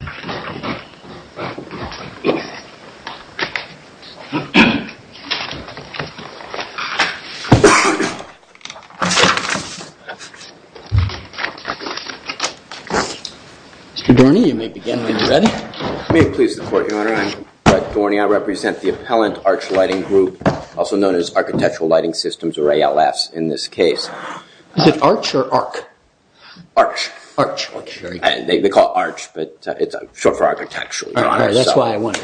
Mr. Dorney, you may begin when you're ready. May it please the Court, Your Honor, I'm Brett Dorney. I represent the Appellant Arch Lighting Group, also known as Architectural Lighting Systems, or ALS, in this case. Is it arch or arc? Arch. Arch. They call it arch, but it's short for architectural, Your Honor. That's why I wonder.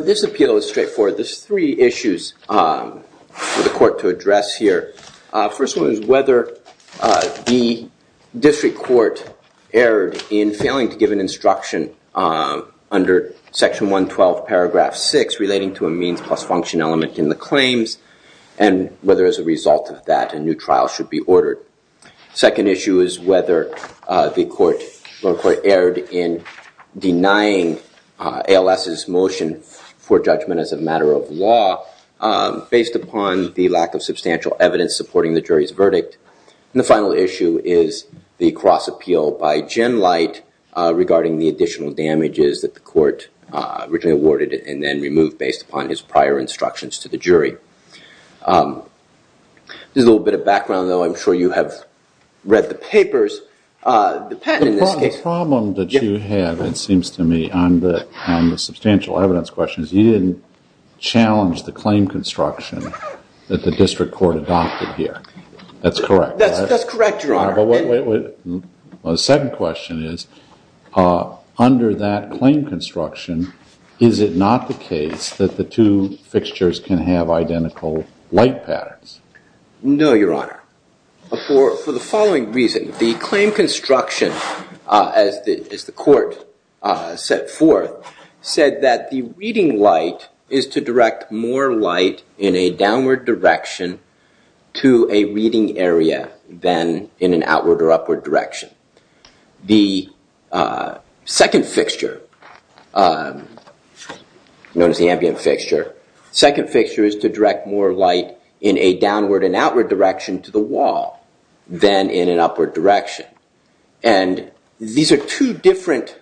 This appeal is straightforward. There's three issues for the Court to address here. First one is whether the district court erred in failing to give an instruction under Section 112, Paragraph 6, relating to a means plus function element in the claims, and whether as a result of that, a new trial should be ordered. Second issue is whether the court erred in denying ALS's motion for judgment as a matter of law based upon the lack of substantial evidence supporting the jury's verdict. And the final issue is the cross appeal by Jen Light regarding the additional damages that the court originally awarded and then removed based upon his prior instructions to the jury. There's a little bit of background, though. I'm sure you have read the papers. The problem that you have, it seems to me, on the substantial evidence question is you didn't challenge the claim construction that the district court adopted here. That's correct. That's correct, Your Honor. The second question is, under that claim construction, is it not the case that the two fixtures can have identical light patterns? No, Your Honor. For the following reason, the claim construction, as the court set forth, said that the reading light is to direct more light in a downward direction to a reading area than in an outward or upward direction. The second fixture, known as the ambient fixture, second fixture is to direct more light in a downward and outward direction to the wall than in an upward direction. And these are two different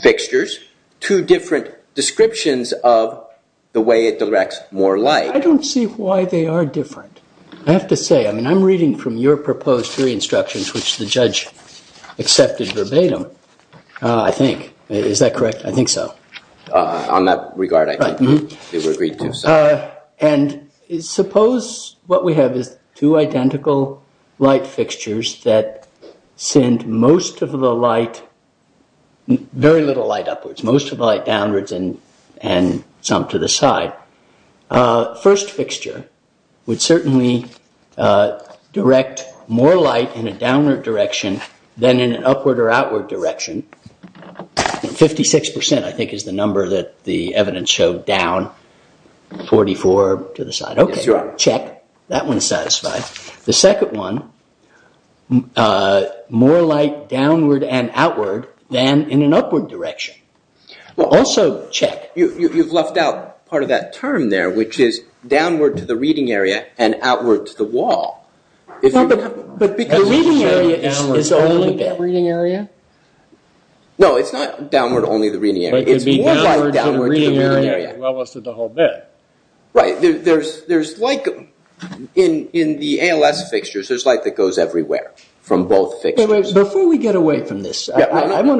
fixtures, two different descriptions of the way it directs more light. I don't see why they are different. I have to say, I mean, I'm reading from your proposed jury instructions, which the judge accepted verbatim, I think. Is that correct? I think so. On that regard, I think they were agreed to. And suppose what we have is two identical light fixtures that send most of the light, very little light upwards, most of the light downwards and some to the side. First fixture would certainly direct more light in a downward direction than in an upward or outward direction. Fifty-six percent, I think, is the number that the evidence showed down. Forty-four to the side. Yes, Your Honor. Okay, check. That one is satisfied. The second one, more light downward and outward than in an upward direction. Also, check. You've left out part of that term there, which is downward to the reading area and outward to the wall. But the reading area is only that reading area? No, it's not downward only the reading area. It's more light downward to the reading area. Well, it's the whole bit. Right. There's light in the ALS fixtures. There's light that goes everywhere from both fixtures. Before we get away from this, I'm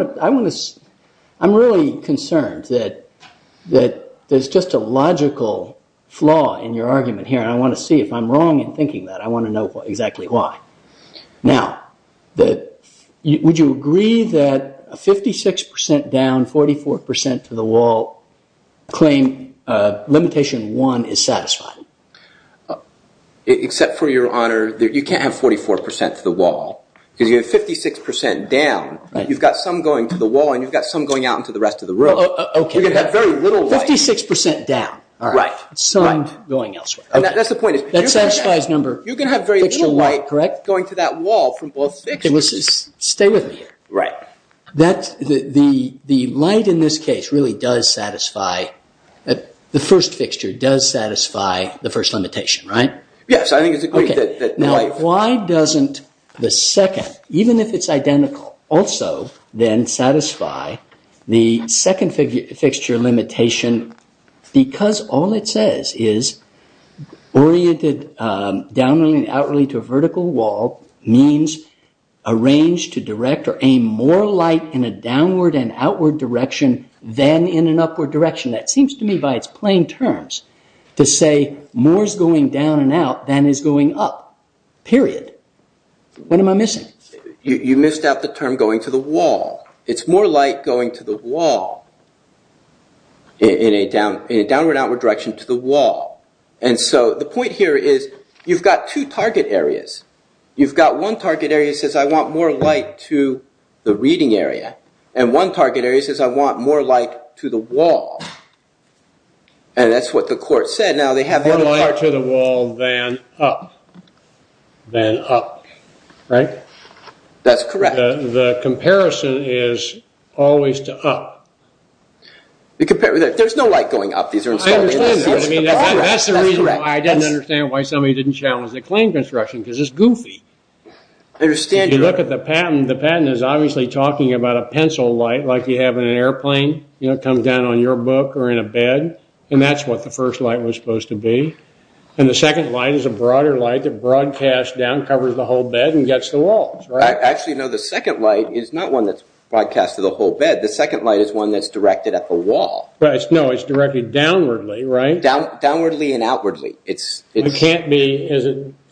really concerned that there's just a logical flaw in your argument here. I want to see if I'm wrong in thinking that. I want to know exactly why. Now, would you agree that a 56% down, 44% to the wall claim limitation one is satisfied? Except for, Your Honor, you can't have 44% to the wall because you have 56% down. You've got some going to the wall and you've got some going out into the rest of the room. Okay. You're going to have very little light. 56% down. All right. Some going elsewhere. That's the point. That satisfies number. You're going to have very little light going to that wall from both fixtures. Okay, stay with me here. Right. The light in this case really does satisfy. The first fixture does satisfy the first limitation, right? Yes, I think it's agreed. Now, why doesn't the second, even if it's identical, also then satisfy the second fixture limitation because all it says is oriented downwardly and outwardly to a vertical wall means arranged to direct or aim more light in a downward and outward direction than in an upward direction. That seems to me by its plain terms to say more is going down and out than is going up, period. What am I missing? You missed out the term going to the wall. It's more light going to the wall in a downward and outward direction to the wall. And so the point here is you've got two target areas. You've got one target area that says I want more light to the reading area and one target area that says I want more light to the wall. And that's what the court said. More light to the wall than up. Than up. Right? That's correct. The comparison is always to up. There's no light going up. I understand that. That's the reason why I didn't understand why somebody didn't challenge the claim construction because it's goofy. I understand. If you look at the patent, the patent is obviously talking about a pencil light like you have in an airplane. It comes down on your book or in a bed, and that's what the first light was supposed to be. And the second light is a broader light that broadcasts down, covers the whole bed, and gets the walls. Actually, no, the second light is not one that's broadcast to the whole bed. The second light is one that's directed at the wall. No, it's directed downwardly, right? Downwardly and outwardly. It can't be.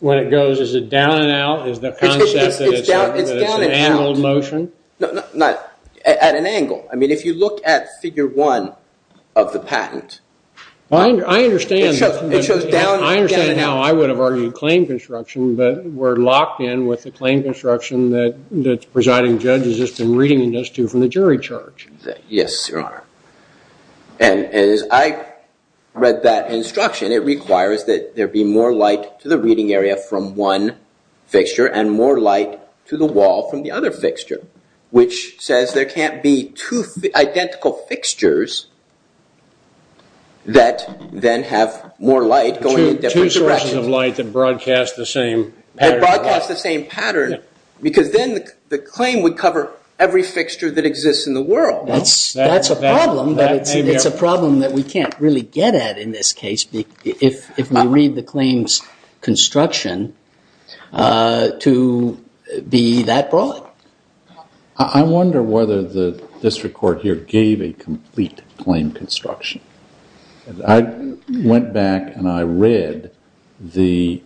When it goes, is it down and out is the concept that it's an angled motion? No, at an angle. I mean, if you look at figure one of the patent. I understand. It shows down and out. I understand how I would have argued claim construction, but we're locked in with the claim construction that the presiding judge has just been reading us to from the jury charge. Yes, Your Honor. And as I read that instruction, it requires that there be more light to the reading area from one fixture and more light to the wall from the other fixture, which says there can't be two identical fixtures that then have more light going in different directions. Two sources of light that broadcast the same pattern. That broadcast the same pattern, because then the claim would cover every fixture that exists in the world. That's a problem, but it's a problem that we can't really get at in this case if we read the claims construction to be that broad. I wonder whether the district court here gave a complete claim construction. I went back and I read the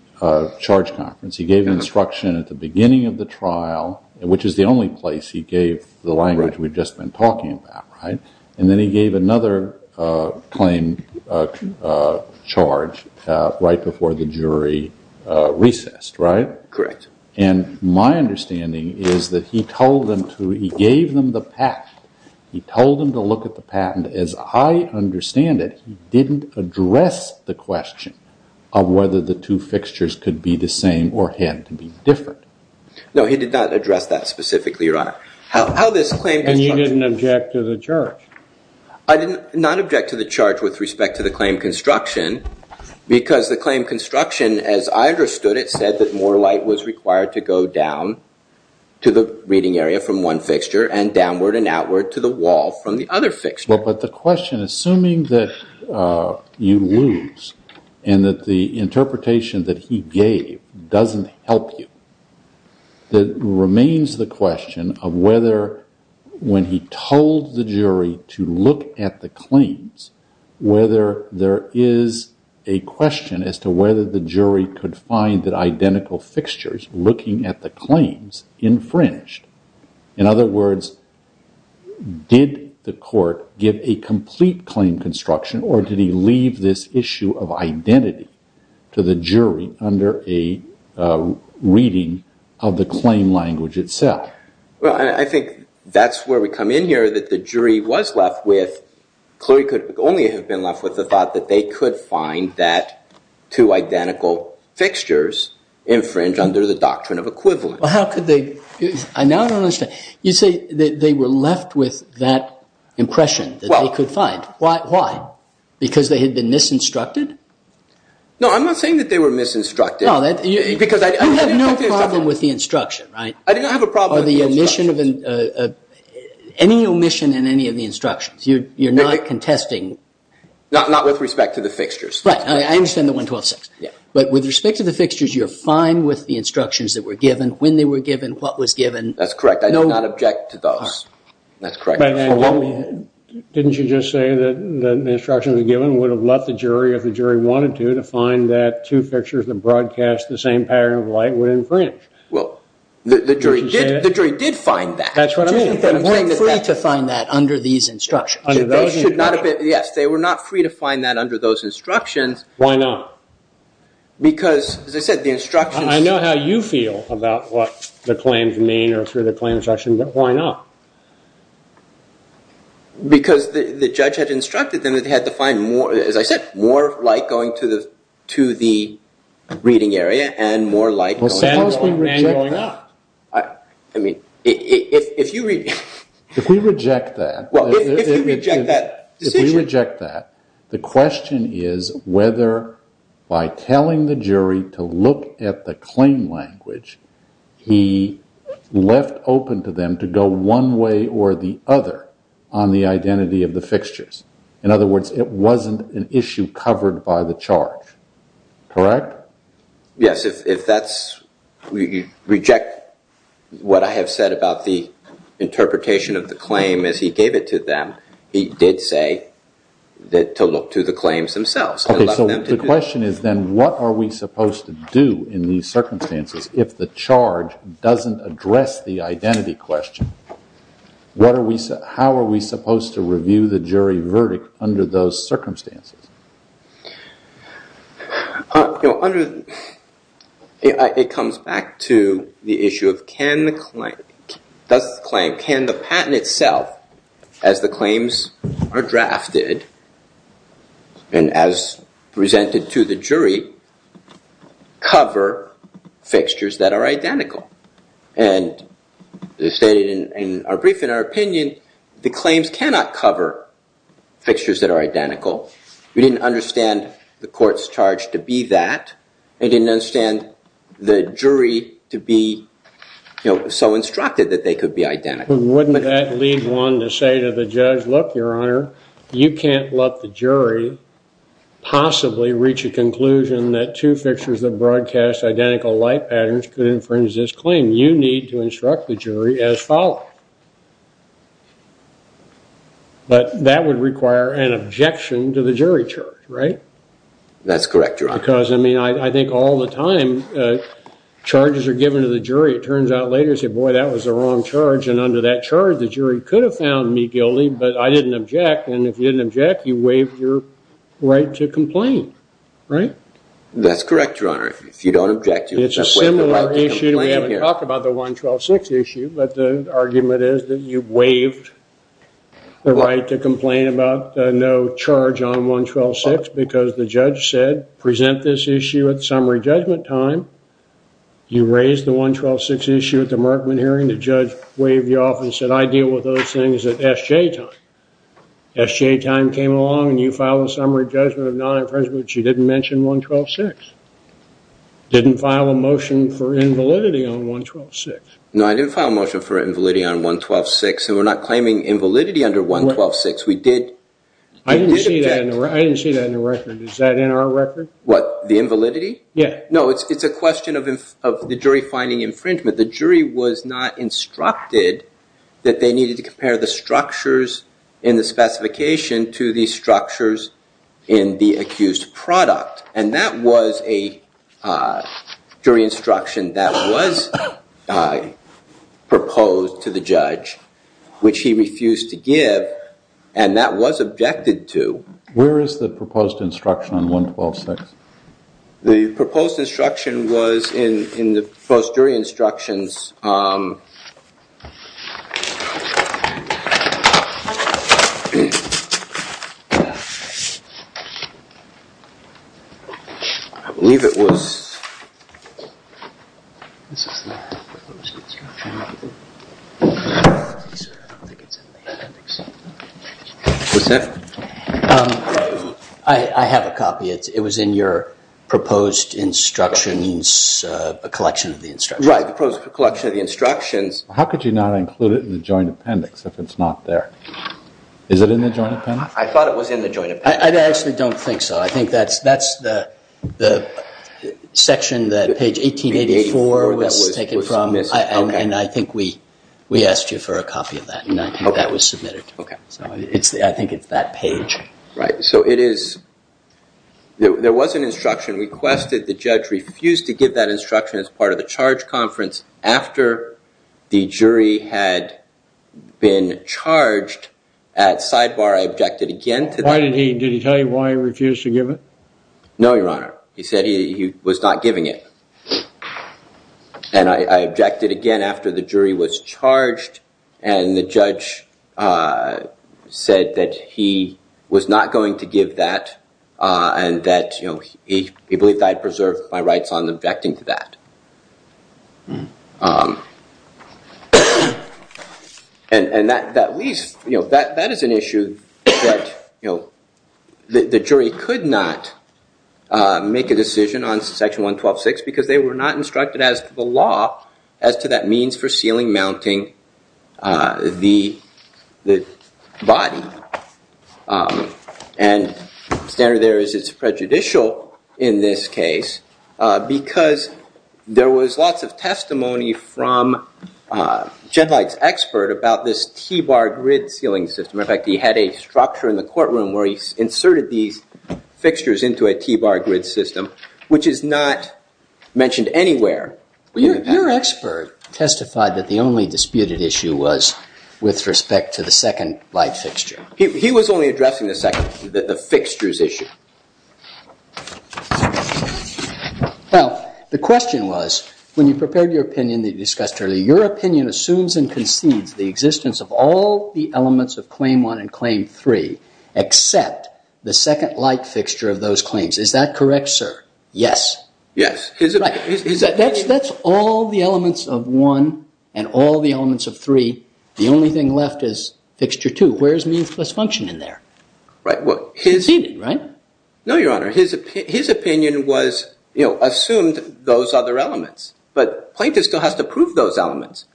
charge conference. He gave instruction at the beginning of the trial, which is the only place he gave the language we've just been talking about, right? And then he gave another claim charge right before the jury recessed, right? Correct. And my understanding is that he gave them the patent. He told them to look at the patent. And as I understand it, he didn't address the question of whether the two fixtures could be the same or had to be different. No, he did not address that specifically, Your Honor. And you didn't object to the charge? I did not object to the charge with respect to the claim construction, because the claim construction, as I understood it, said that more light was required to go down to the reading area from one fixture and downward and outward to the wall from the other fixture. Well, but the question, assuming that you lose and that the interpretation that he gave doesn't help you, that remains the question of whether when he told the jury to look at the claims, whether there is a question as to whether the jury could find that identical fixtures looking at the claims infringed. In other words, did the court give a complete claim construction, or did he leave this issue of identity to the jury under a reading of the claim language itself? Well, I think that's where we come in here, that the jury was left with, clearly could only have been left with the thought that they could find that two identical fixtures infringed under the doctrine of equivalence. I now don't understand. You say that they were left with that impression that they could find. Why? Because they had been misinstructed? No, I'm not saying that they were misinstructed. You have no problem with the instruction, right? I didn't have a problem with the instruction. Any omission in any of the instructions. You're not contesting. Not with respect to the fixtures. Right. I understand the 1126. But with respect to the fixtures, you're fine with the instructions that were given, when they were given, what was given. That's correct. I do not object to those. That's correct. Didn't you just say that the instructions given would have left the jury, if the jury wanted to, to find that two fixtures that broadcast the same pattern of light were infringed? Well, the jury did find that. That's what I mean. They were free to find that under these instructions. Yes, they were not free to find that under those instructions. Why not? Because, as I said, the instructions... I know how you feel about what the claims mean or through the claim instruction, but why not? Because the judge had instructed them that they had to find, as I said, more light going to the reading area and more light going... Well, Sam has been manualing up. I mean, if you... If we reject that... If we reject that, the question is whether, by telling the jury to look at the claim language, he left open to them to go one way or the other on the identity of the fixtures. In other words, it wasn't an issue covered by the charge. Correct? Yes, if that's... If you reject what I have said about the interpretation of the claim as he gave it to them, he did say to look to the claims themselves. Okay, so the question is then what are we supposed to do in these circumstances if the charge doesn't address the identity question? How are we supposed to review the jury verdict under those circumstances? Under... It comes back to the issue of can the claim... Does the claim... Can the patent itself, as the claims are drafted and as presented to the jury, cover fixtures that are identical? And as stated in our brief, in our opinion, the claims cannot cover fixtures that are identical. We didn't understand the court's charge to be that. I didn't understand the jury to be so instructed that they could be identical. Wouldn't that lead one to say to the judge, look, your honor, you can't let the jury possibly reach a conclusion that two fixtures that broadcast identical life patterns could infringe this claim. You need to instruct the jury as follows. But that would require an objection to the jury charge, right? That's correct, your honor. Because, I mean, I think all the time charges are given to the jury. It turns out later, you say, boy, that was the wrong charge. And under that charge, the jury could have found me guilty, but I didn't object. And if you didn't object, you waived your right to complain, right? That's correct, your honor. If you don't object... It's a similar issue. We haven't talked about the 112-6 issue. But the argument is that you waived the right to complain about no charge on 112-6 because the judge said, present this issue at summary judgment time. You raised the 112-6 issue at the Markman hearing. The judge waived you off and said, I deal with those things at SJ time. SJ time came along and you filed a summary judgment of non-infringement. But you didn't mention 112-6. Didn't file a motion for invalidity on 112-6. No, I didn't file a motion for invalidity on 112-6. And we're not claiming invalidity under 112-6. We did... I didn't see that in the record. Is that in our record? What? The invalidity? Yeah. No, it's a question of the jury finding infringement. The jury was not instructed that they needed to compare the structures in the specification to the structures in the accused product. And that was a jury instruction that was proposed to the judge, which he refused to give. And that was objected to. Where is the proposed instruction on 112-6? The proposed instruction was in the post-jury instructions. I believe it was... Was that? I have a copy. It was in your proposed instructions, a collection of the instructions. Right, the proposed collection of the instructions. How could you not include it in the joint appendix if it's not there? Is it in the joint appendix? I thought it was in the joint appendix. I actually don't think so. I think that's the section that page 1884 was taken from. And I think we asked you for a copy of that. And I think that was submitted. Okay. So I think it's that page. Right, so it is... There was an instruction requested. The judge refused to give that instruction as part of the charge conference after the jury had been charged. At sidebar, I objected again to that. Did he tell you why he refused to give it? No, Your Honor. He said he was not giving it. And I objected again after the jury was charged. And the judge said that he was not going to give that and that he believed I had preserved my rights on objecting to that. And that is an issue that the jury could not make a decision on Section 112.6 because they were not instructed as to the law as to that means for ceiling mounting the body. And standard there is it's prejudicial in this case because there was lots of testimony from Jed Light's expert about this T-bar grid ceiling system. In fact, he had a structure in the courtroom where he inserted these fixtures into a T-bar grid system, which is not mentioned anywhere. Your expert testified that the only disputed issue was with respect to the second light fixture. He was only addressing the second, the fixtures issue. Now, the question was, when you prepared your opinion that you discussed earlier, your opinion assumes and concedes the existence of all the elements of Claim 1 and Claim 3 except the second light fixture of those claims. Is that correct, sir? Yes. Yes. That's all the elements of 1 and all the elements of 3. The only thing left is Fixture 2. Where is means plus function in there? Right. Conceded, right? No, Your Honor. His opinion was assumed those other elements, but plaintiff still has to prove those elements.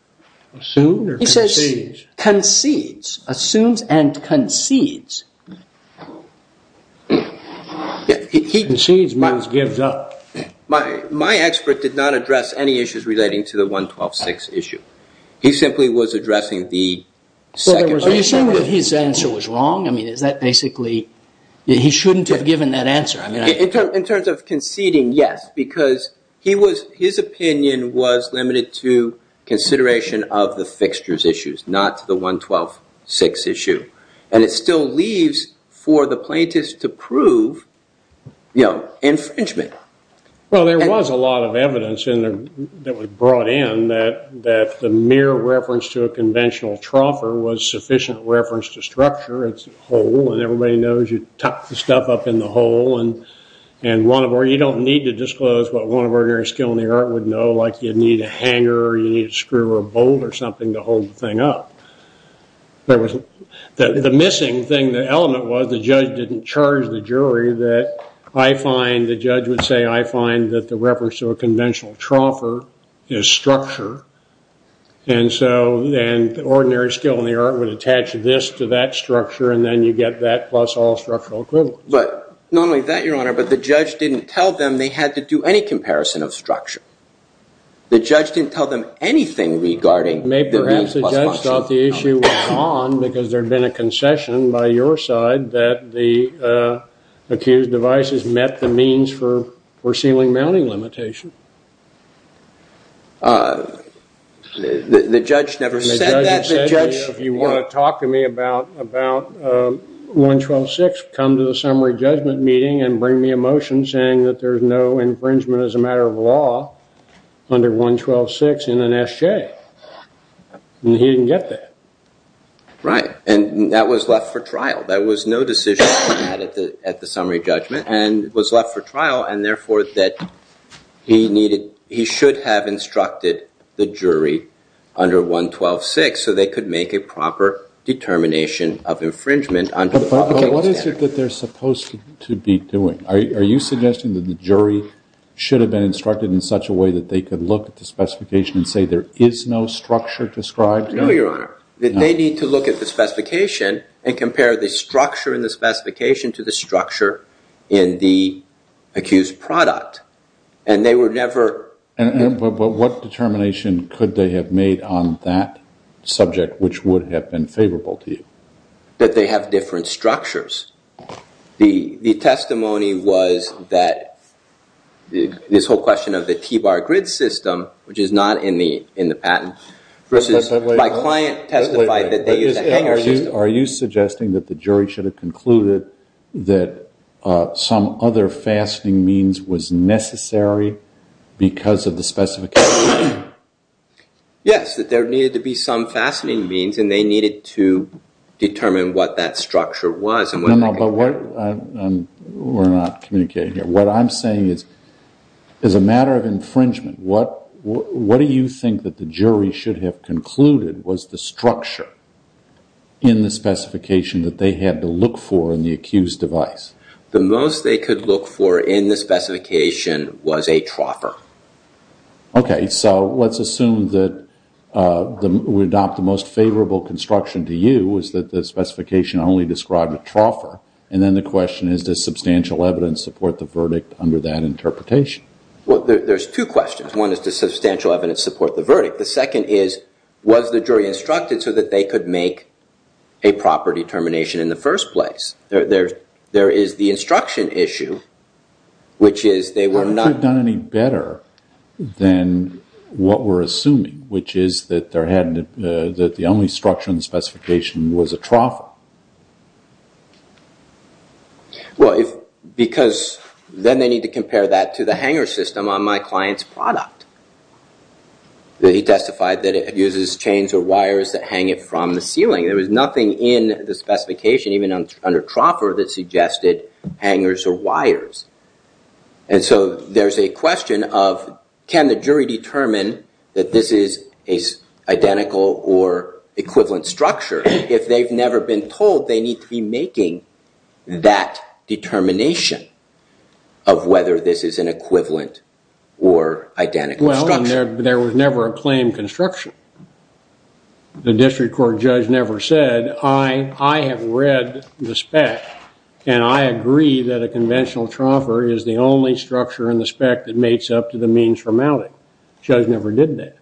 Assumed or concedes? He says concedes. Assumes and concedes. Concedes means gives up. My expert did not address any issues relating to the 112.6 issue. He simply was addressing the second. Are you saying that his answer was wrong? He shouldn't have given that answer. In terms of conceding, yes, because his opinion was limited to consideration of the fixtures issues, not the 112.6 issue. It still leaves for the plaintiffs to prove infringement. Well, there was a lot of evidence that was brought in that the mere reference to a conventional troffer was sufficient reference to structure. It's a hole, and everybody knows you tuck the stuff up in the hole. You don't need to disclose what one of ordinary skill in the art would know, like you'd need a hanger or you'd need a screw or a bolt or something to hold the thing up. The missing thing, the element was the judge didn't charge the jury that I find, the judge would say, I find that the reference to a conventional troffer is structure. And so the ordinary skill in the art would attach this to that structure, and then you get that plus all structural equivalent. But not only that, Your Honor, but the judge didn't tell them they had to do any comparison of structure. The judge didn't tell them anything regarding the means plus function. Maybe perhaps the judge thought the issue was on because there had been a concession by your side that the accused devices met the means for sealing mounting limitation. The judge never said that. The judge said if you want to talk to me about 112.6, come to the summary judgment meeting and bring me a motion saying that there's no infringement as a matter of law under 112.6 in an S.J. And he didn't get that. Right. And that was left for trial. There was no decision at the summary judgment and was left for trial, and therefore that he needed, he should have instructed the jury under 112.6 so they could make a proper determination of infringement. But what is it that they're supposed to be doing? Are you suggesting that the jury should have been instructed in such a way that they could look at the specification and say there is no structure described? No, Your Honor. That they need to look at the specification and compare the structure in the specification to the structure in the accused product. And they were never... And what determination could they have made on that subject which would have been favorable to you? That they have different structures. The testimony was that this whole question of the T-bar grid system, which is not in the patent, versus my client testified that they used a hanger system. Are you suggesting that the jury should have concluded that some other fastening means was necessary because of the specification? Yes, that there needed to be some fastening means and they needed to determine what that structure was. No, no, but we're not communicating here. What I'm saying is, as a matter of infringement, what do you think that the jury should have concluded was the structure in the specification that they had to look for in the accused device? The most they could look for in the specification was a troffer. Okay, so let's assume that we adopt the most favorable construction to you, is that the specification only described a troffer. And then the question is, does substantial evidence support the verdict under that interpretation? Well, there's two questions. One is, does substantial evidence support the verdict? The second is, was the jury instructed so that they could make a proper determination in the first place? There is the instruction issue, which is they were not... than what we're assuming, which is that the only structure in the specification was a troffer. Well, because then they need to compare that to the hanger system on my client's product. He testified that it uses chains or wires that hang it from the ceiling. There was nothing in the specification, even under troffer, that suggested hangers or wires. And so there's a question of, can the jury determine that this is an identical or equivalent structure? If they've never been told, they need to be making that determination of whether this is an equivalent or identical structure. Well, there was never a claimed construction. The district court judge never said, I have read the spec and I agree that a conventional troffer is the only structure in the spec that makes up to the means for mounting. Judge never did that.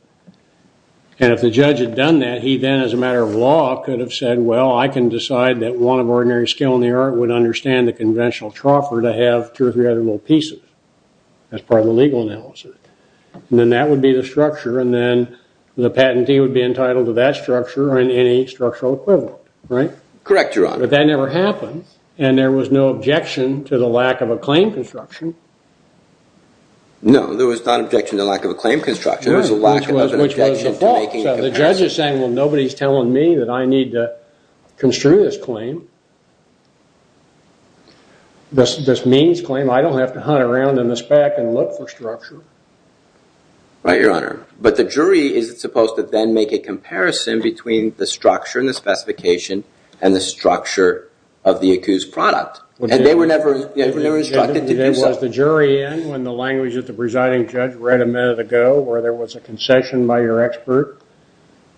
And if the judge had done that, he then, as a matter of law, could have said, well, I can decide that one of ordinary skill in the art would understand the conventional troffer to have two or three other little pieces. That's part of the legal analysis. And then that would be the structure, and then the patentee would be entitled to that structure and any structural equivalent. Right? Correct, Your Honor. But that never happened, and there was no objection to the lack of a claim construction. No, there was not an objection to the lack of a claim construction. Which was the fault. The judge is saying, well, nobody's telling me that I need to construe this claim. This means claim, I don't have to hunt around in the spec and look for structure. Right, Your Honor. But the jury is supposed to then make a comparison between the structure and the specification and the structure of the accused product. And they were never instructed to do so. Was the jury in when the language of the presiding judge read a minute ago where there was a concession by your expert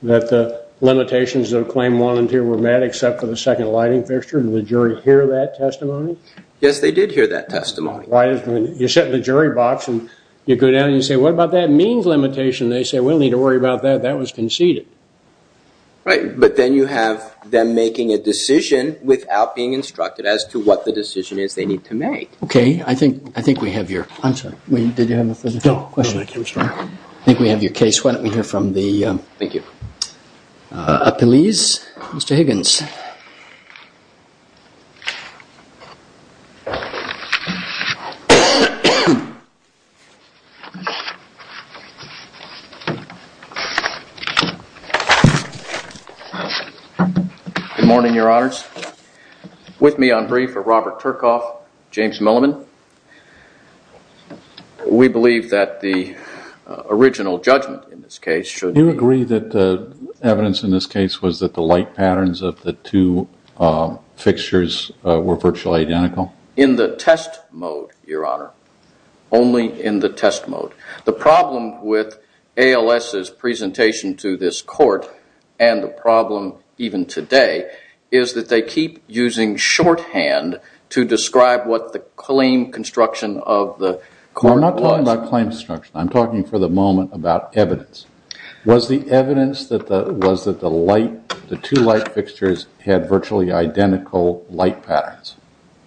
that the limitations of the claim volunteer were met except for the second lighting fixture? Did the jury hear that testimony? Yes, they did hear that testimony. You sit in the jury box and you go down and you say, what about that means limitation? They say, we don't need to worry about that. That was conceded. Right. But then you have them making a decision without being instructed as to what the decision is they need to make. Okay. I think we have your... I'm sorry. Did you have a further question? No. I think we have your case. Why don't we hear from the... Thank you. Appellees. Mr. Higgins. Good morning, your honors. With me on brief are Robert Turkoff, James Milliman. We believe that the original judgment in this case should... The evidence in this case was that the light patterns of the two fixtures were virtually identical? In the test mode, your honor. Only in the test mode. The problem with ALS's presentation to this court and the problem even today is that they keep using shorthand to describe what the claim construction of the court was. We're not talking about claim construction. I'm talking for the moment about evidence. Was the evidence that the two light fixtures had virtually identical light patterns?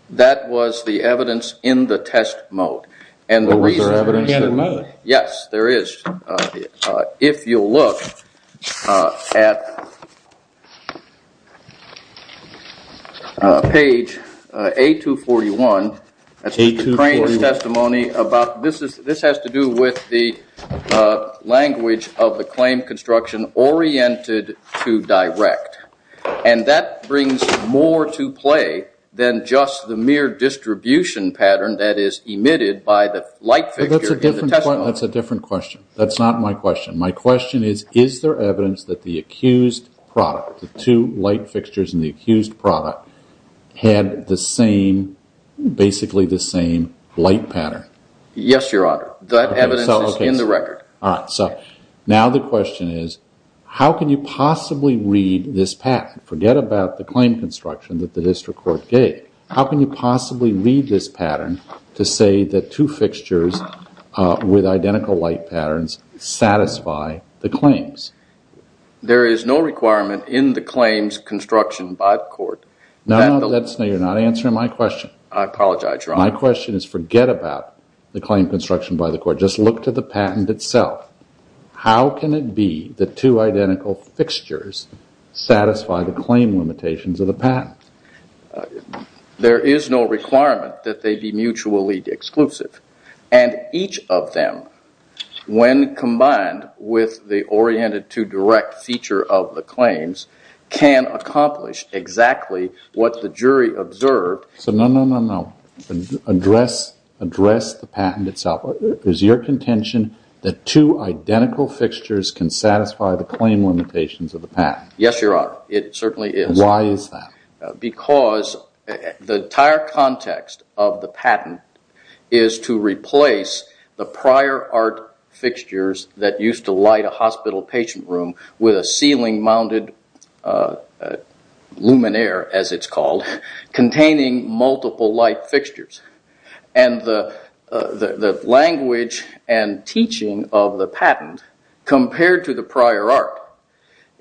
That was the evidence in the test mode. Was there evidence in the test mode? Yes, there is. If you'll look at page A241. That's the plaintiff's testimony. This has to do with the language of the claim construction oriented to direct. And that brings more to play than just the mere distribution pattern that is emitted by the light fixture. That's a different question. That's not my question. My question is, is there evidence that the accused product, the two light fixtures in the accused product, had basically the same light pattern? Yes, your honor. That evidence is in the record. Now the question is, how can you possibly read this pattern? Forget about the claim construction that the district court gave. How can you possibly read this pattern to say that two fixtures with identical light patterns satisfy the claims? There is no requirement in the claims construction by the court. No, you're not answering my question. I apologize, your honor. My question is, forget about the claim construction by the court. Just look to the patent itself. How can it be that two identical fixtures satisfy the claim limitations of the patent? There is no requirement that they be mutually exclusive. And each of them, when combined with the oriented to direct feature of the claims, can accomplish exactly what the jury observed. So no, no, no, no. Address the patent itself. Is your contention that two identical fixtures can satisfy the claim limitations of the patent? Yes, your honor. It certainly is. Why is that? Because the entire context of the patent is to replace the prior art fixtures that used to light a hospital patient room with a ceiling-mounted luminaire, as it's called, containing multiple light fixtures. And the language and teaching of the patent, compared to the prior art,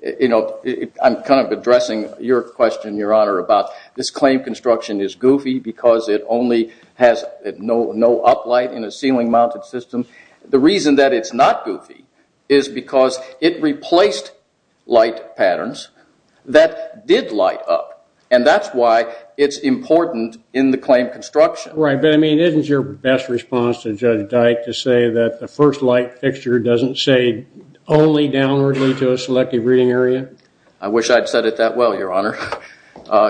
I'm kind of addressing your question, your honor, about this claim construction is goofy because it only has no up light in a ceiling-mounted system. The reason that it's not goofy is because it replaced light patterns that did light up. And that's why it's important in the claim construction. Right. But, I mean, isn't your best response to Judge Dyke to say that the first light fixture doesn't say only downwardly to a selective reading area? I wish I'd said it that well, your honor.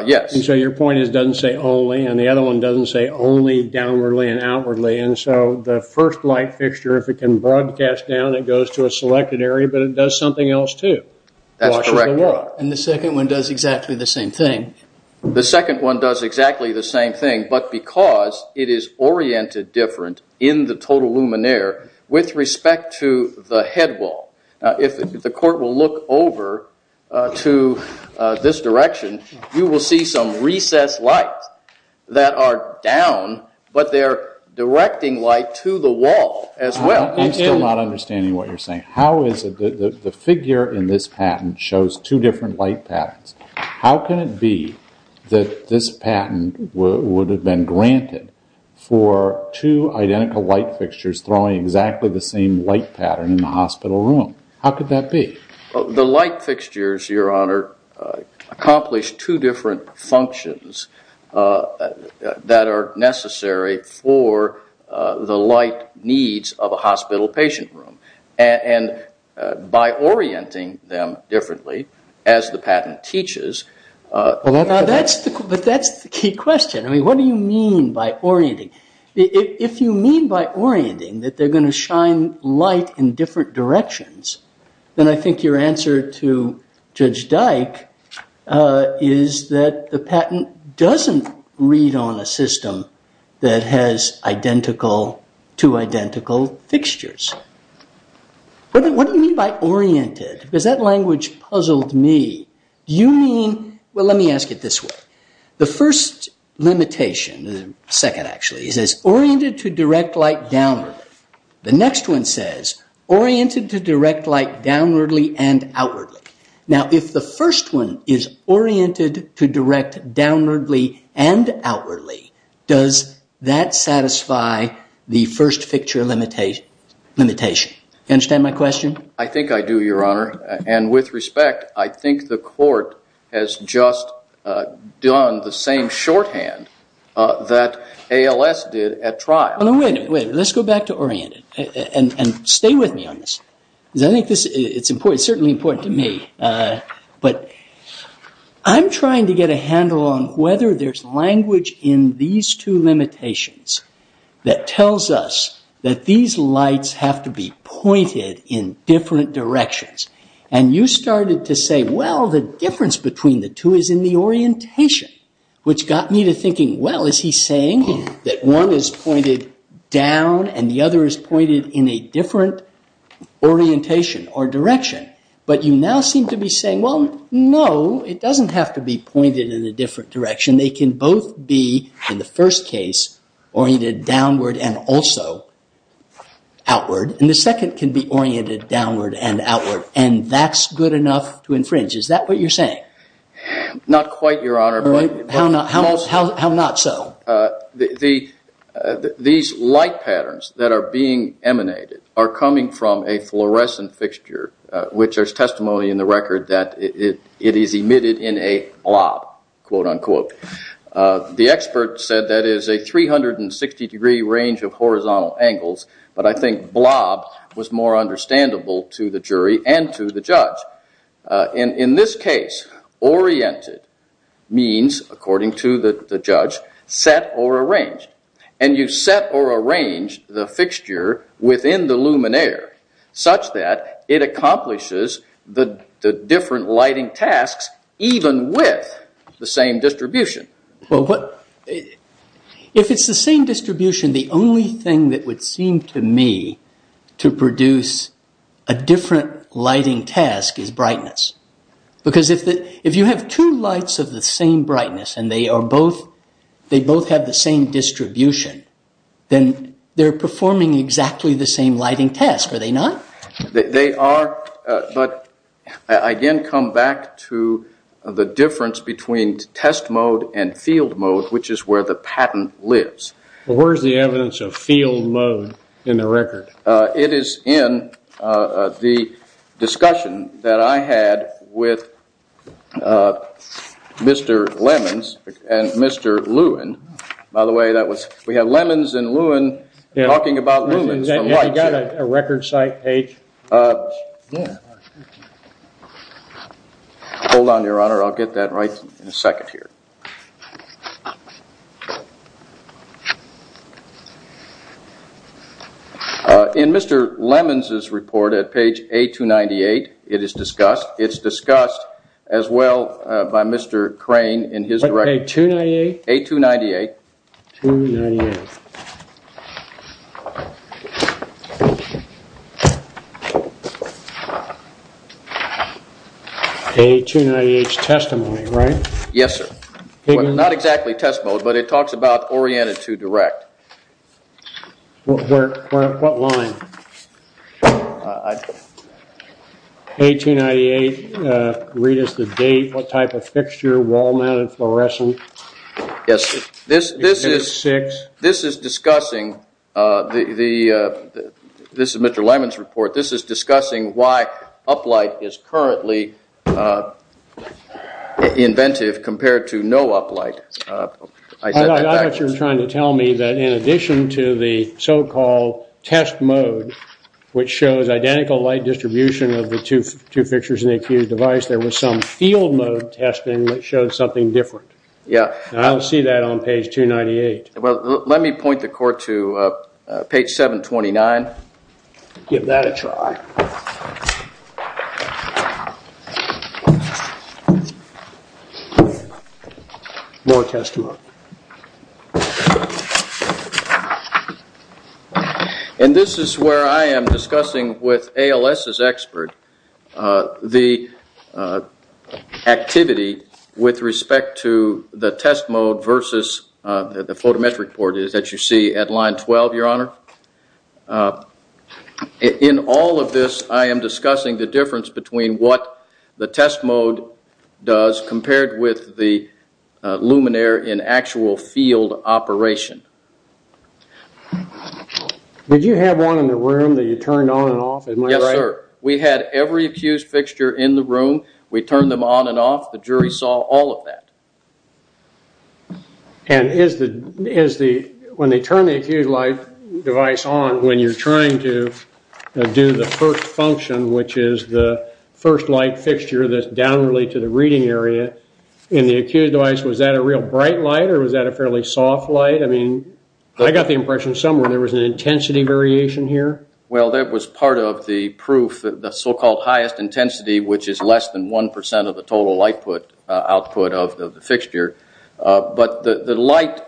Yes. So your point is it doesn't say only, and the other one doesn't say only downwardly and outwardly. And so the first light fixture, if it can broadcast down, it goes to a selected area, but it does something else, too. That's correct. And the second one does exactly the same thing. The second one does exactly the same thing, but because it is oriented different in the total luminaire with respect to the head wall. If the court will look over to this direction, you will see some recessed lights that are down, but they're directing light to the wall as well. I'm still not understanding what you're saying. The figure in this patent shows two different light patterns. How can it be that this patent would have been granted for two identical light fixtures throwing exactly the same light pattern in the hospital room? How could that be? The light fixtures, your honor, accomplish two different functions that are necessary for the light needs of a hospital patient room. And by orienting them differently, as the patent teaches... But that's the key question. What do you mean by orienting? If you mean by orienting that they're going to shine light in different directions, then I think your answer to Judge Dyke is that the patent doesn't read on a system that has two identical fixtures. What do you mean by oriented? Because that language puzzled me. You mean... Well, let me ask it this way. The first limitation... The second, actually. It says, oriented to direct light downward. The next one says, oriented to direct light downwardly and outwardly. Now, if the first one is oriented to direct downwardly and outwardly, does that satisfy the first fixture limitation? Do you understand my question? I think I do, your honor. And with respect, I think the court has just done the same shorthand that ALS did at trial. Wait a minute. Let's go back to oriented. And stay with me on this. It's certainly important to me. But I'm trying to get a handle on whether there's language in these two limitations that tells us that these lights have to be pointed in different directions. And you started to say, well, the difference between the two is in the orientation. Which got me to thinking, well, is he saying that one is pointed down and the other is pointed in a different orientation or direction? But you now seem to be saying, well, no, it doesn't have to be pointed in a different direction. They can both be, in the first case, oriented downward and also outward. And the second can be oriented downward and outward. And that's good enough to infringe. Is that what you're saying? Not quite, your honor. How not so? These light patterns that are being emanated are coming from a fluorescent fixture, which there's testimony in the record that it is emitted in a blob, quote unquote. The expert said that is a 360 degree range of horizontal angles. But I think blob was more understandable to the jury and to the judge. In this case, oriented means, according to the judge, set or arranged. And you set or arrange the fixture within the luminaire such that it accomplishes the different lighting tasks even with the same distribution. If it's the same distribution, the only thing that would seem to me to produce a different lighting task is brightness. Because if you have two lights of the same brightness and they both have the same distribution, then they're performing exactly the same lighting task. Are they not? They are, but I again come back to the difference between test mode and field mode, which is where the pattern lives. Where is the evidence of field mode in the record? It is in the discussion that I had with Mr. Lemons and Mr. Lewin. By the way, we have Lemons and Lewin talking about lumens from light. You got a record site page? Hold on, your honor. I'll get that right in a second here. In Mr. Lemons' report at page A298, it is discussed. It's discussed as well by Mr. Crane in his direction. Page 298? A298. 298. A298's testimony, right? Yes, sir. Not exactly test mode, but it talks about oriented to direct. What line? A298, read us the date, what type of fixture, wall-mounted fluorescent. Yes, this is discussing, this is Mr. Lemons' report. This is discussing why up-light is currently inventive compared to no up-light. I thought you were trying to tell me that in addition to the so-called test mode, which shows identical light distribution of the two fixtures in the accused device, there was some field mode testing that showed something different. Yeah. I don't see that on page 298. Let me point the court to page 729. Give that a try. More testimony. And this is where I am discussing with ALS's expert the activity with respect to the test mode versus the photometric port that you see at line 12, Your Honor. In all of this, I am discussing the difference between what the test mode does compared with the luminaire in actual field operation. Did you have one in the room that you turned on and off? Yes, sir. We had every accused fixture in the room. We turned them on and off. The jury saw all of that. And when they turn the accused light device on, when you're trying to do the first function, which is the first light fixture that's down related to the reading area in the accused device, was that a real bright light or was that a fairly soft light? I mean, I got the impression somewhere there was an intensity variation here. Well, that was part of the proof that the so-called highest intensity, which is less than 1% of the total output of the fixture. But the light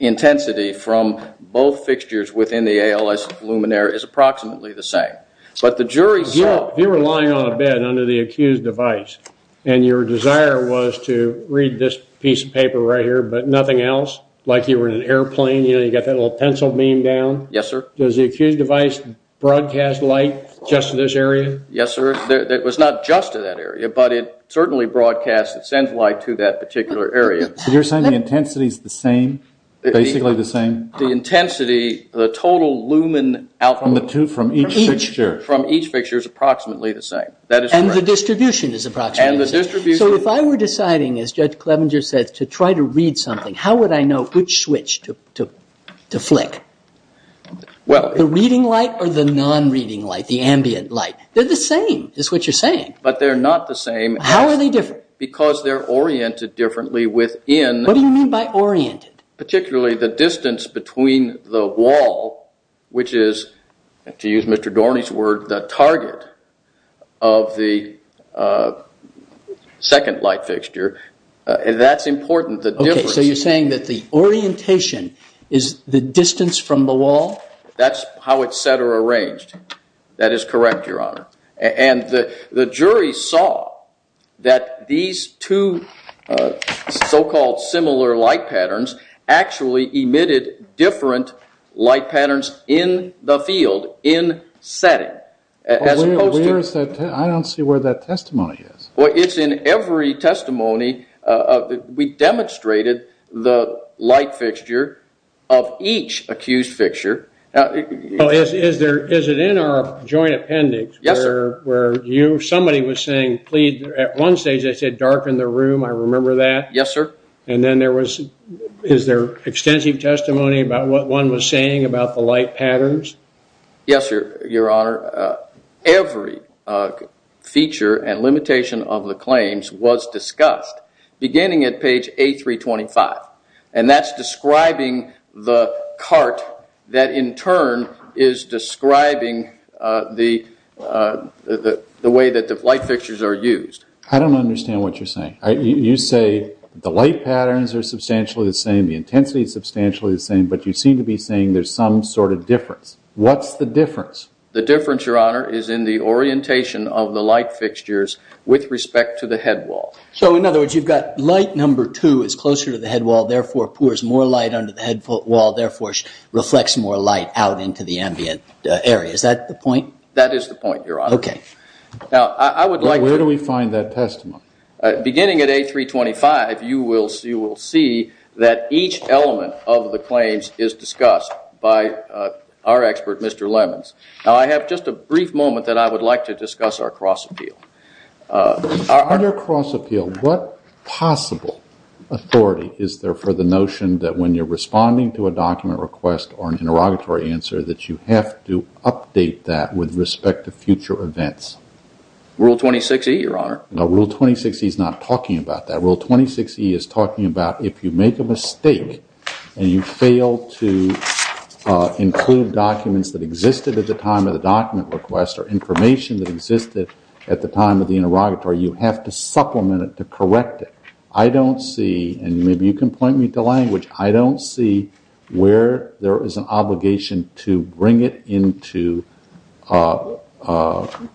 intensity from both fixtures within the ALS luminaire is approximately the same. But the jury saw If you were lying on a bed under the accused device and your desire was to read this piece of paper right here but nothing else, like you were in an airplane, you know, you got that little pencil beam down, does the accused device broadcast light just to this area? Yes, sir. It was not just to that area, but it certainly broadcasts. It sends light to that particular area. So you're saying the intensity is the same, basically the same? The intensity, the total lumen output from each fixture is approximately the same. And the distribution is approximately the same. So if I were deciding, as Judge Clevenger said, to try to read something, how would I know which switch to flick? The reading light or the non-reading light, the ambient light? They're the same is what you're saying. But they're not the same. How are they different? Because they're oriented differently within What do you mean by oriented? Particularly the distance between the wall, which is, to use Mr. Dorney's word, the target of the second light fixture. That's important, the difference. So you're saying that the orientation is the distance from the wall? That's how it's set or arranged. That is correct, Your Honor. And the jury saw that these two so-called similar light patterns actually emitted different light patterns in the field, in setting. I don't see where that testimony is. It's in every testimony. We demonstrated the light fixture of each accused fixture. Is it in our joint appendix? Yes, sir. Somebody was saying, at one stage, they said, darken the room. I remember that. Yes, sir. And then is there extensive testimony about what one was saying about the light patterns? Yes, Your Honor. Every feature and limitation of the claims was discussed, beginning at page A325. And that's describing the cart that, in turn, is describing the way that the light fixtures are used. I don't understand what you're saying. You say the light patterns are substantially the same, the intensity is substantially the same, but you seem to be saying there's some sort of difference. What's the difference? The difference, Your Honor, is in the orientation of the light fixtures with respect to the headwall. So, in other words, you've got light number two is closer to the headwall, therefore pours more light under the headwall, therefore reflects more light out into the ambient area. Is that the point? That is the point, Your Honor. Okay. Now, I would like to – Where do we find that testimony? Beginning at A325, you will see that each element of the claims is discussed by our expert, Mr. Lemons. Now, I have just a brief moment that I would like to discuss our cross appeal. On your cross appeal, what possible authority is there for the notion that when you're responding to a document request or an interrogatory answer that you have to update that with respect to future events? Rule 26E, Your Honor. No, Rule 26E is not talking about that. Rule 26E is talking about if you make a mistake and you fail to include documents that existed at the time of the document request or information that existed at the time of the interrogatory, you have to supplement it to correct it. I don't see, and maybe you can point me to language, I don't see where there is an obligation to bring it into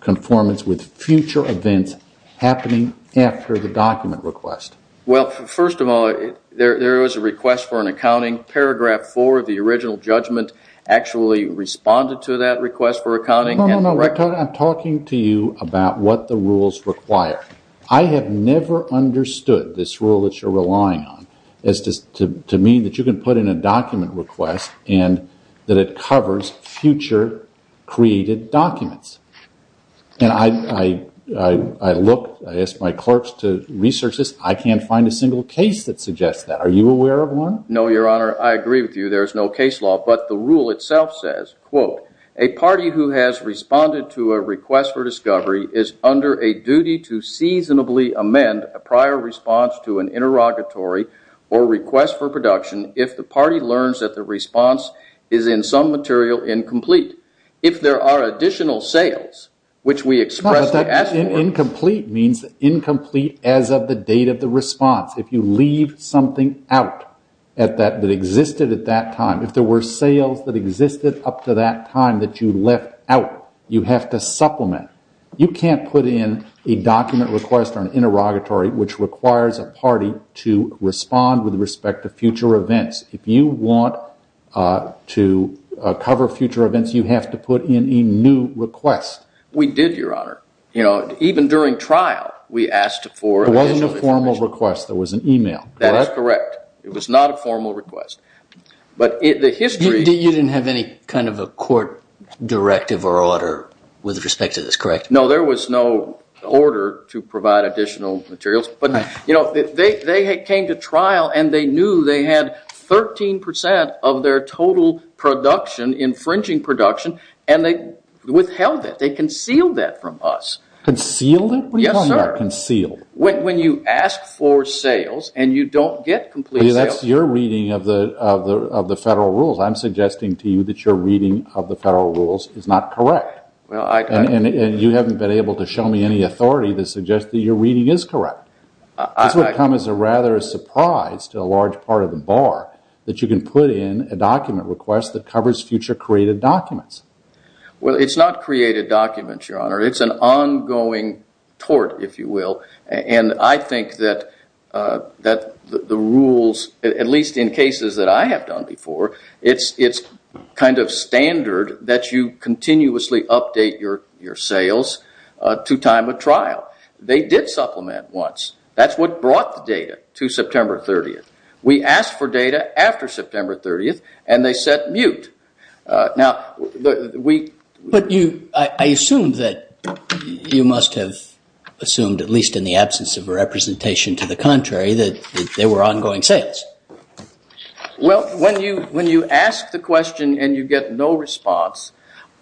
conformance with future events happening after the document request. Well, first of all, there was a request for an accounting. Paragraph 4 of the original judgment actually responded to that request for accounting. No, no, no. I'm talking to you about what the rules require. I have never understood this rule that you're relying on as to mean that you can put in a document request and that it covers future created documents. And I looked, I asked my clerks to research this. I can't find a single case that suggests that. Are you aware of one? No, Your Honor. I agree with you. There is no case law. But the rule itself says, quote, a party who has responded to a request for discovery is under a duty to seasonably amend a prior response to an interrogatory or request for production if the party learns that the response is in some material incomplete. If there are additional sales, which we express the ask for. Incomplete means incomplete as of the date of the response. If you leave something out that existed at that time, if there were sales that existed up to that time that you left out, you have to supplement. You can't put in a document request or an interrogatory which requires a party to respond with respect to future events. If you want to cover future events, you have to put in a new request. We did, Your Honor. Even during trial, we asked for additional information. It was a formal request. There was an email. That is correct. It was not a formal request. You didn't have any kind of a court directive or order with respect to this, correct? No, there was no order to provide additional materials. But they came to trial, and they knew they had 13% of their total production, infringing production, and they withheld it. They concealed that from us. Concealed it? Yes, sir. When you ask for sales and you don't get complete sales. That's your reading of the federal rules. I'm suggesting to you that your reading of the federal rules is not correct. And you haven't been able to show me any authority to suggest that your reading is correct. This would come as a rather surprise to a large part of the bar that you can put in a document request that covers future created documents. Well, it's not created documents, Your Honor. It's an ongoing tort, if you will. And I think that the rules, at least in cases that I have done before, it's kind of standard that you continuously update your sales to time of trial. They did supplement once. That's what brought the data to September 30th. We asked for data after September 30th, and they said mute. But I assume that you must have assumed, at least in the absence of a representation to the contrary, that there were ongoing sales. Well, when you ask the question and you get no response,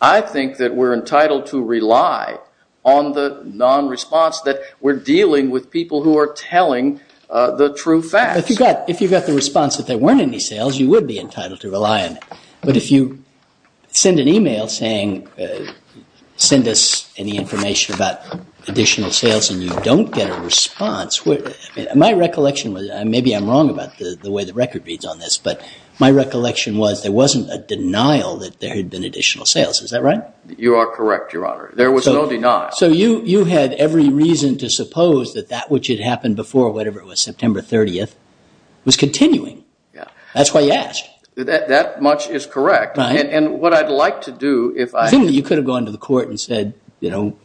I think that we're entitled to rely on the non-response that we're dealing with people who are telling the true facts. If you got the response that there weren't any sales, you would be entitled to rely on it. But if you send an email saying, send us any information about additional sales, and you don't get a response, my recollection was, and maybe I'm wrong about the way the record reads on this, but my recollection was there wasn't a denial that there had been additional sales. Is that right? You are correct, Your Honor. There was no denial. So you had every reason to suppose that that which had happened before whatever it was, September 30th, was continuing. Yeah. That's why you asked. That much is correct. Right. And what I'd like to do, if I— I think that you could have gone to the court and said, you know,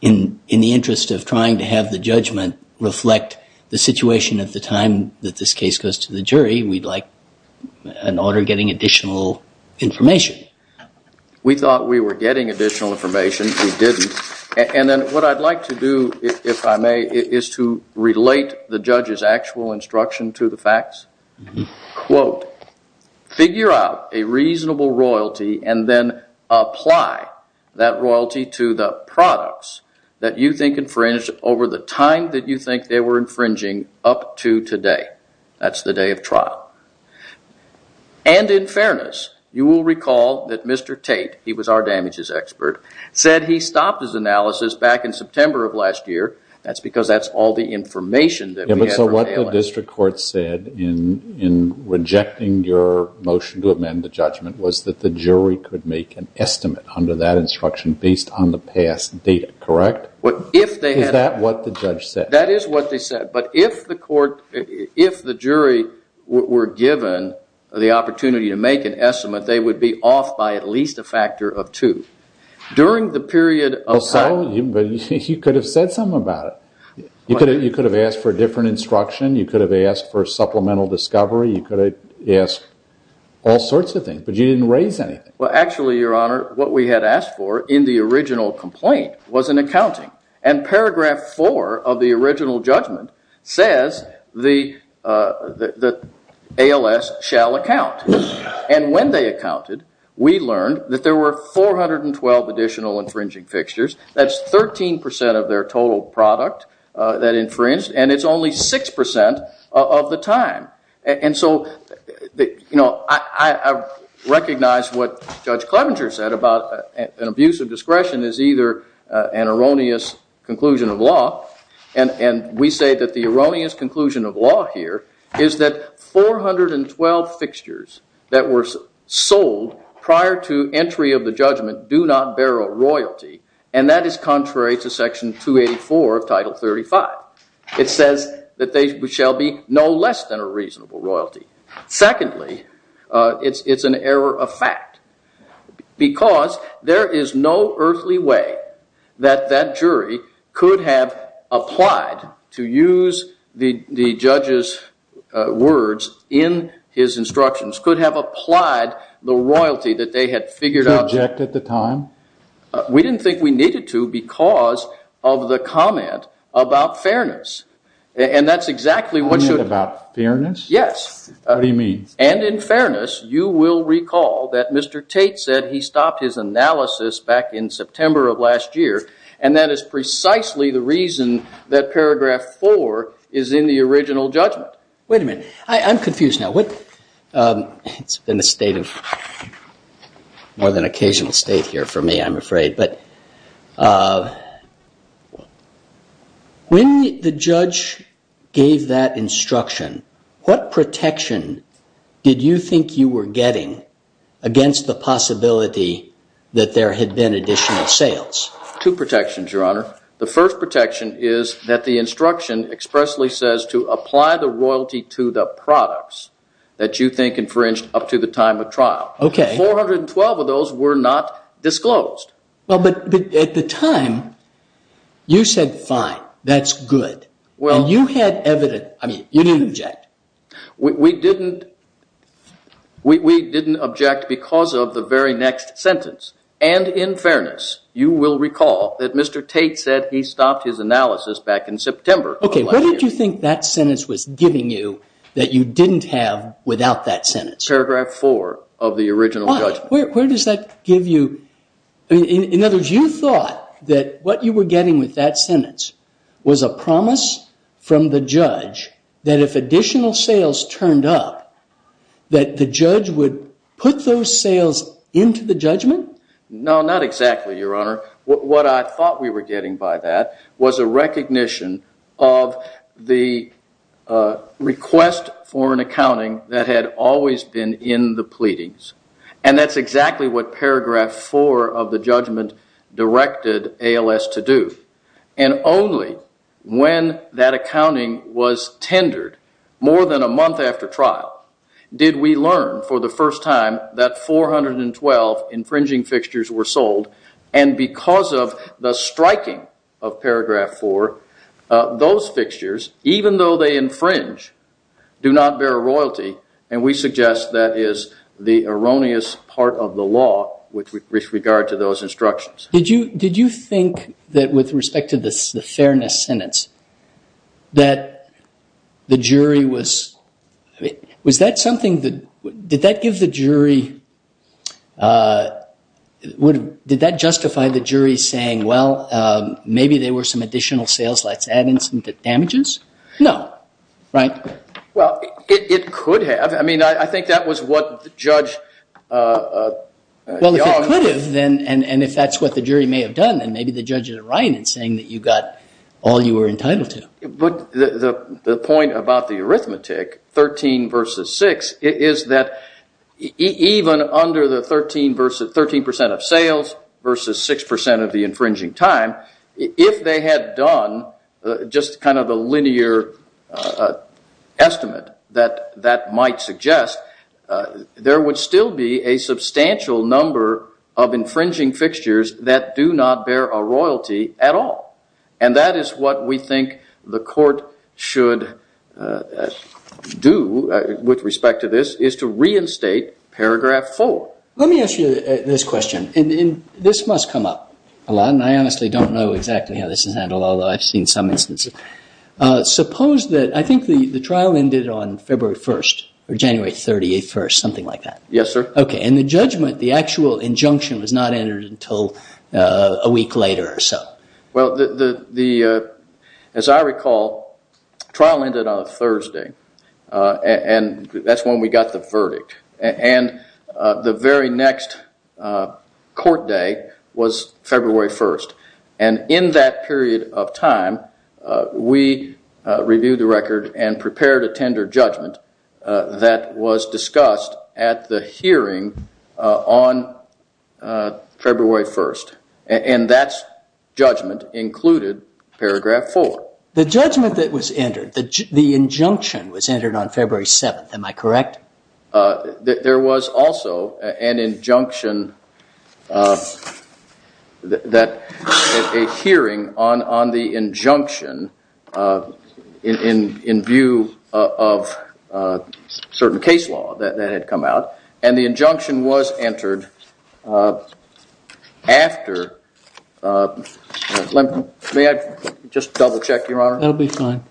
in the interest of trying to have the judgment reflect the situation at the time that this case goes to the jury, we'd like an order getting additional information. We thought we were getting additional information. We didn't. And then what I'd like to do, if I may, is to relate the judge's actual instruction to the facts. Quote, figure out a reasonable royalty and then apply that royalty to the products that you think infringed over the time that you think they were infringing up to today. That's the day of trial. And in fairness, you will recall that Mr. Tate—he was our damages expert—said he stopped his analysis back in September of last year. That's because that's all the information that we had for failing. Yeah, but so what the district court said in rejecting your motion to amend the judgment was that the jury could make an estimate under that instruction based on the past data, correct? If they had— Is that what the judge said? That is what they said. But if the court—if the jury were given the opportunity to make an estimate, they would be off by at least a factor of two. During the period of time— Well, so you could have said something about it. You could have asked for a different instruction. You could have asked for supplemental discovery. You could have asked all sorts of things, but you didn't raise anything. Well, actually, Your Honor, what we had asked for in the original complaint was an accounting. And paragraph four of the original judgment says the ALS shall account. And when they accounted, we learned that there were 412 additional infringing fixtures. That's 13% of their total product that infringed, and it's only 6% of the time. And so, you know, I recognize what Judge Clevenger said about an abuse of discretion is either an erroneous conclusion of law. And we say that the erroneous conclusion of law here is that 412 fixtures that were sold prior to entry of the judgment do not bear a royalty. And that is contrary to section 284 of Title 35. It says that they shall be no less than a reasonable royalty. Secondly, it's an error of fact because there is no earthly way that that jury could have applied, to use the judge's words in his instructions, could have applied the royalty that they had figured out— To object at the time? We didn't think we needed to because of the comment about fairness. And that's exactly what should— You mean about fairness? Yes. What do you mean? And in fairness, you will recall that Mr. Tate said he stopped his analysis back in September of last year, and that is precisely the reason that paragraph four is in the original judgment. Wait a minute. I'm confused now. It's been a state of—more than occasional state here for me, I'm afraid. But when the judge gave that instruction, what protection did you think you were getting against the possibility that there had been additional sales? Two protections, Your Honor. The first protection is that the instruction expressly says to apply the royalty to the products that you think infringed up to the time of trial. Okay. 412 of those were not disclosed. Well, but at the time, you said, fine, that's good. Well— And you had evident—I mean, you didn't object. We didn't—we didn't object because of the very next sentence. And in fairness, you will recall that Mr. Tate said he stopped his analysis back in September of last year. Okay. What did you think that sentence was giving you that you didn't have without that sentence? Paragraph four of the original judgment. In other words, you thought that what you were getting with that sentence was a promise from the judge that if additional sales turned up, that the judge would put those sales into the judgment? No, not exactly, Your Honor. What I thought we were getting by that was a recognition of the request for an accounting that had always been in the pleadings. And that's exactly what paragraph four of the judgment directed ALS to do. And only when that accounting was tendered more than a month after trial did we learn for the first time that 412 infringing fixtures were sold. And because of the striking of paragraph four, those fixtures, even though they infringe, do not bear royalty. And we suggest that is the erroneous part of the law with regard to those instructions. Did you think that with respect to the fairness sentence, that the jury was – was that something that – did that give the jury – did that justify the jury saying, well, maybe there were some additional sales, let's add in some damages? No. Right? Well, it could have. I mean, I think that was what Judge Young – Well, if it could have, then – and if that's what the jury may have done, then maybe the judge is right in saying that you got all you were entitled to. But the point about the arithmetic, 13 versus 6, is that even under the 13% of sales versus 6% of the infringing time, if they had done just kind of a linear estimate, that might suggest there would still be a substantial number of infringing fixtures that do not bear a royalty at all. And that is what we think the court should do with respect to this, is to reinstate paragraph 4. Let me ask you this question. And this must come up a lot, and I honestly don't know exactly how this is handled, although I've seen some instances. Suppose that – I think the trial ended on February 1st, or January 31st, something like that. Yes, sir. Okay. And the judgment, the actual injunction, was not entered until a week later or so. Well, as I recall, trial ended on a Thursday, and that's when we got the verdict. And the very next court day was February 1st. And in that period of time, we reviewed the record and prepared a tender judgment that was discussed at the hearing on February 1st. And that judgment included paragraph 4. The judgment that was entered, the injunction was entered on February 7th. Am I correct? There was also an injunction that – a hearing on the injunction in view of certain case law that had come out. And the injunction was entered after – may I just double-check, Your Honor? That will be fine.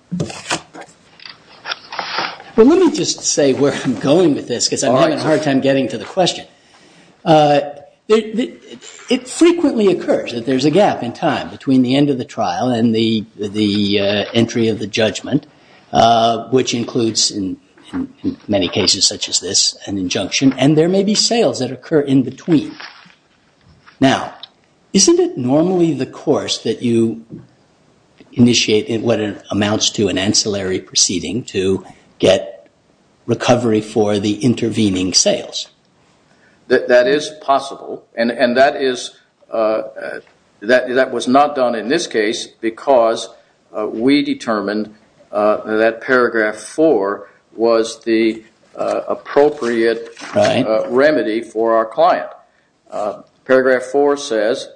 Well, let me just say where I'm going with this, because I'm having a hard time getting to the question. It frequently occurs that there's a gap in time between the end of the trial and the entry of the judgment, which includes, in many cases such as this, an injunction, and there may be sales that occur in between. Now, isn't it normally the course that you initiate what amounts to an ancillary proceeding to get recovery for the intervening sales? That is possible, and that is – that was not done in this case because we determined that paragraph 4 was the appropriate remedy for our client. Paragraph 4 says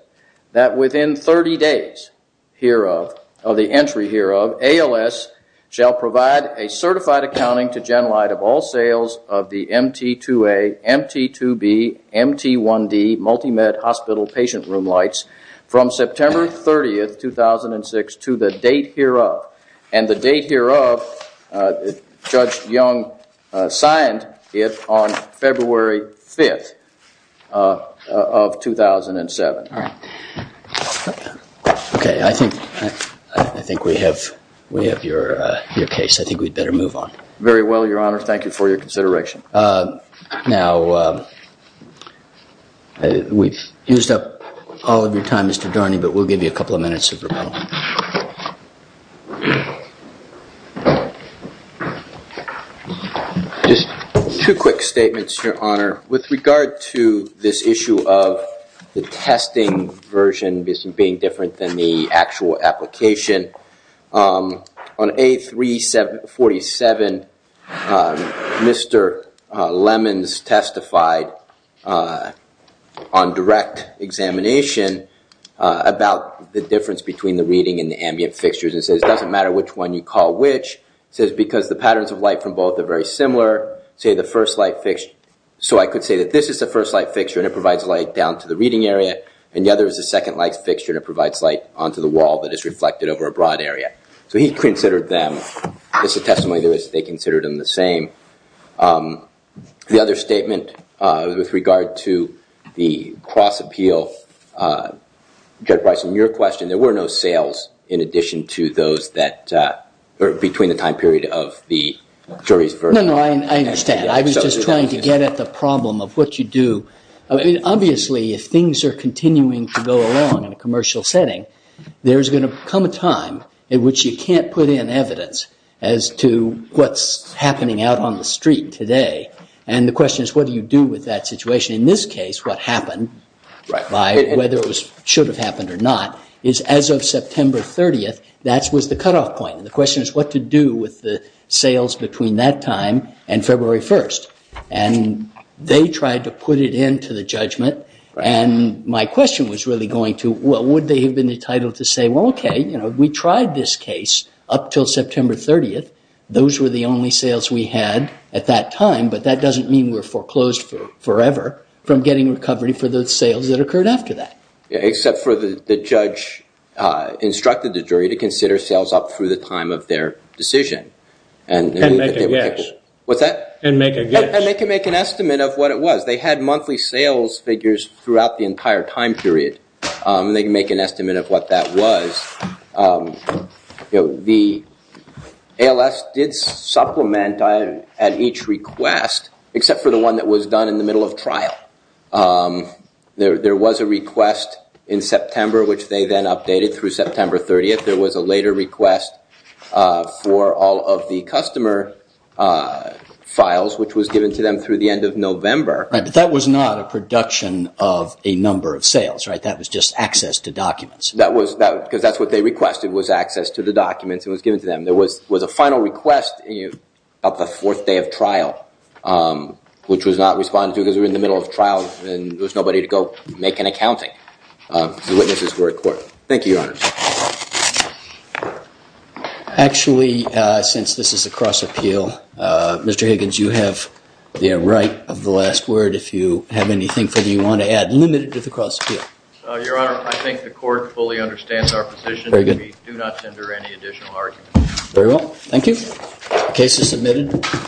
that within 30 days hereof – of the entry hereof, ALS shall provide a certified accounting to Genlyde of all sales of the MT2A, MT2B, MT1D multi-med hospital patient room lights from September 30th, 2006 to the date hereof. And the date hereof, Judge Young signed it on February 5th of 2007. All right. Okay, I think we have your case. I think we'd better move on. Very well, Your Honor. Thank you for your consideration. Now, we've used up all of your time, Mr. Dorney, but we'll give you a couple of minutes. Just two quick statements, Your Honor. With regard to this issue of the testing version being different than the actual application, on A347, Mr. Lemons testified on direct examination about the difference between the reading and the ambient fixtures. It says it doesn't matter which one you call which. It says because the patterns of light from both are very similar, say the first light fixture – so I could say that this is the first light fixture, and it provides light down to the reading area, and the other is the second light fixture, and it provides light onto the wall that is reflected over a broad area. So he considered them – this testimony, they considered them the same. The other statement with regard to the cross-appeal, Judge Bryson, your question, there were no sales in addition to those that – or between the time period of the jury's verdict. No, no, I understand. I was just trying to get at the problem of what you do. I mean, obviously, if things are continuing to go along in a commercial setting, there's going to come a time in which you can't put in evidence as to what's happening out on the street today. And the question is, what do you do with that situation? In this case, what happened, whether it should have happened or not, is as of September 30th, that was the cutoff point. And the question is what to do with the sales between that time and February 1st. And they tried to put it into the judgment, and my question was really going to, well, would they have been entitled to say, well, okay, we tried this case up until September 30th. Those were the only sales we had at that time, but that doesn't mean we're foreclosed forever from getting recovery for the sales that occurred after that. Except for the judge instructed the jury to consider sales up through the time of their decision. And make a guess. What's that? And make a guess. And they can make an estimate of what it was. They had monthly sales figures throughout the entire time period. They can make an estimate of what that was. The ALS did supplement at each request, except for the one that was done in the middle of trial. There was a request in September, which they then updated through September 30th. There was a later request for all of the customer files, which was given to them through the end of November. But that was not a production of a number of sales, right? That was just access to documents. Because that's what they requested was access to the documents. It was given to them. There was a final request about the fourth day of trial, which was not responded to because we were in the middle of trial and there was nobody to go make an accounting because the witnesses were at court. Thank you, Your Honor. Actually, since this is a cross-appeal, Mr. Higgins, you have the right of the last word. If you have anything further you want to add, limit it to the cross-appeal. Your Honor, I think the court fully understands our position. We do not tender any additional arguments. Very well. Thank you. The case is submitted.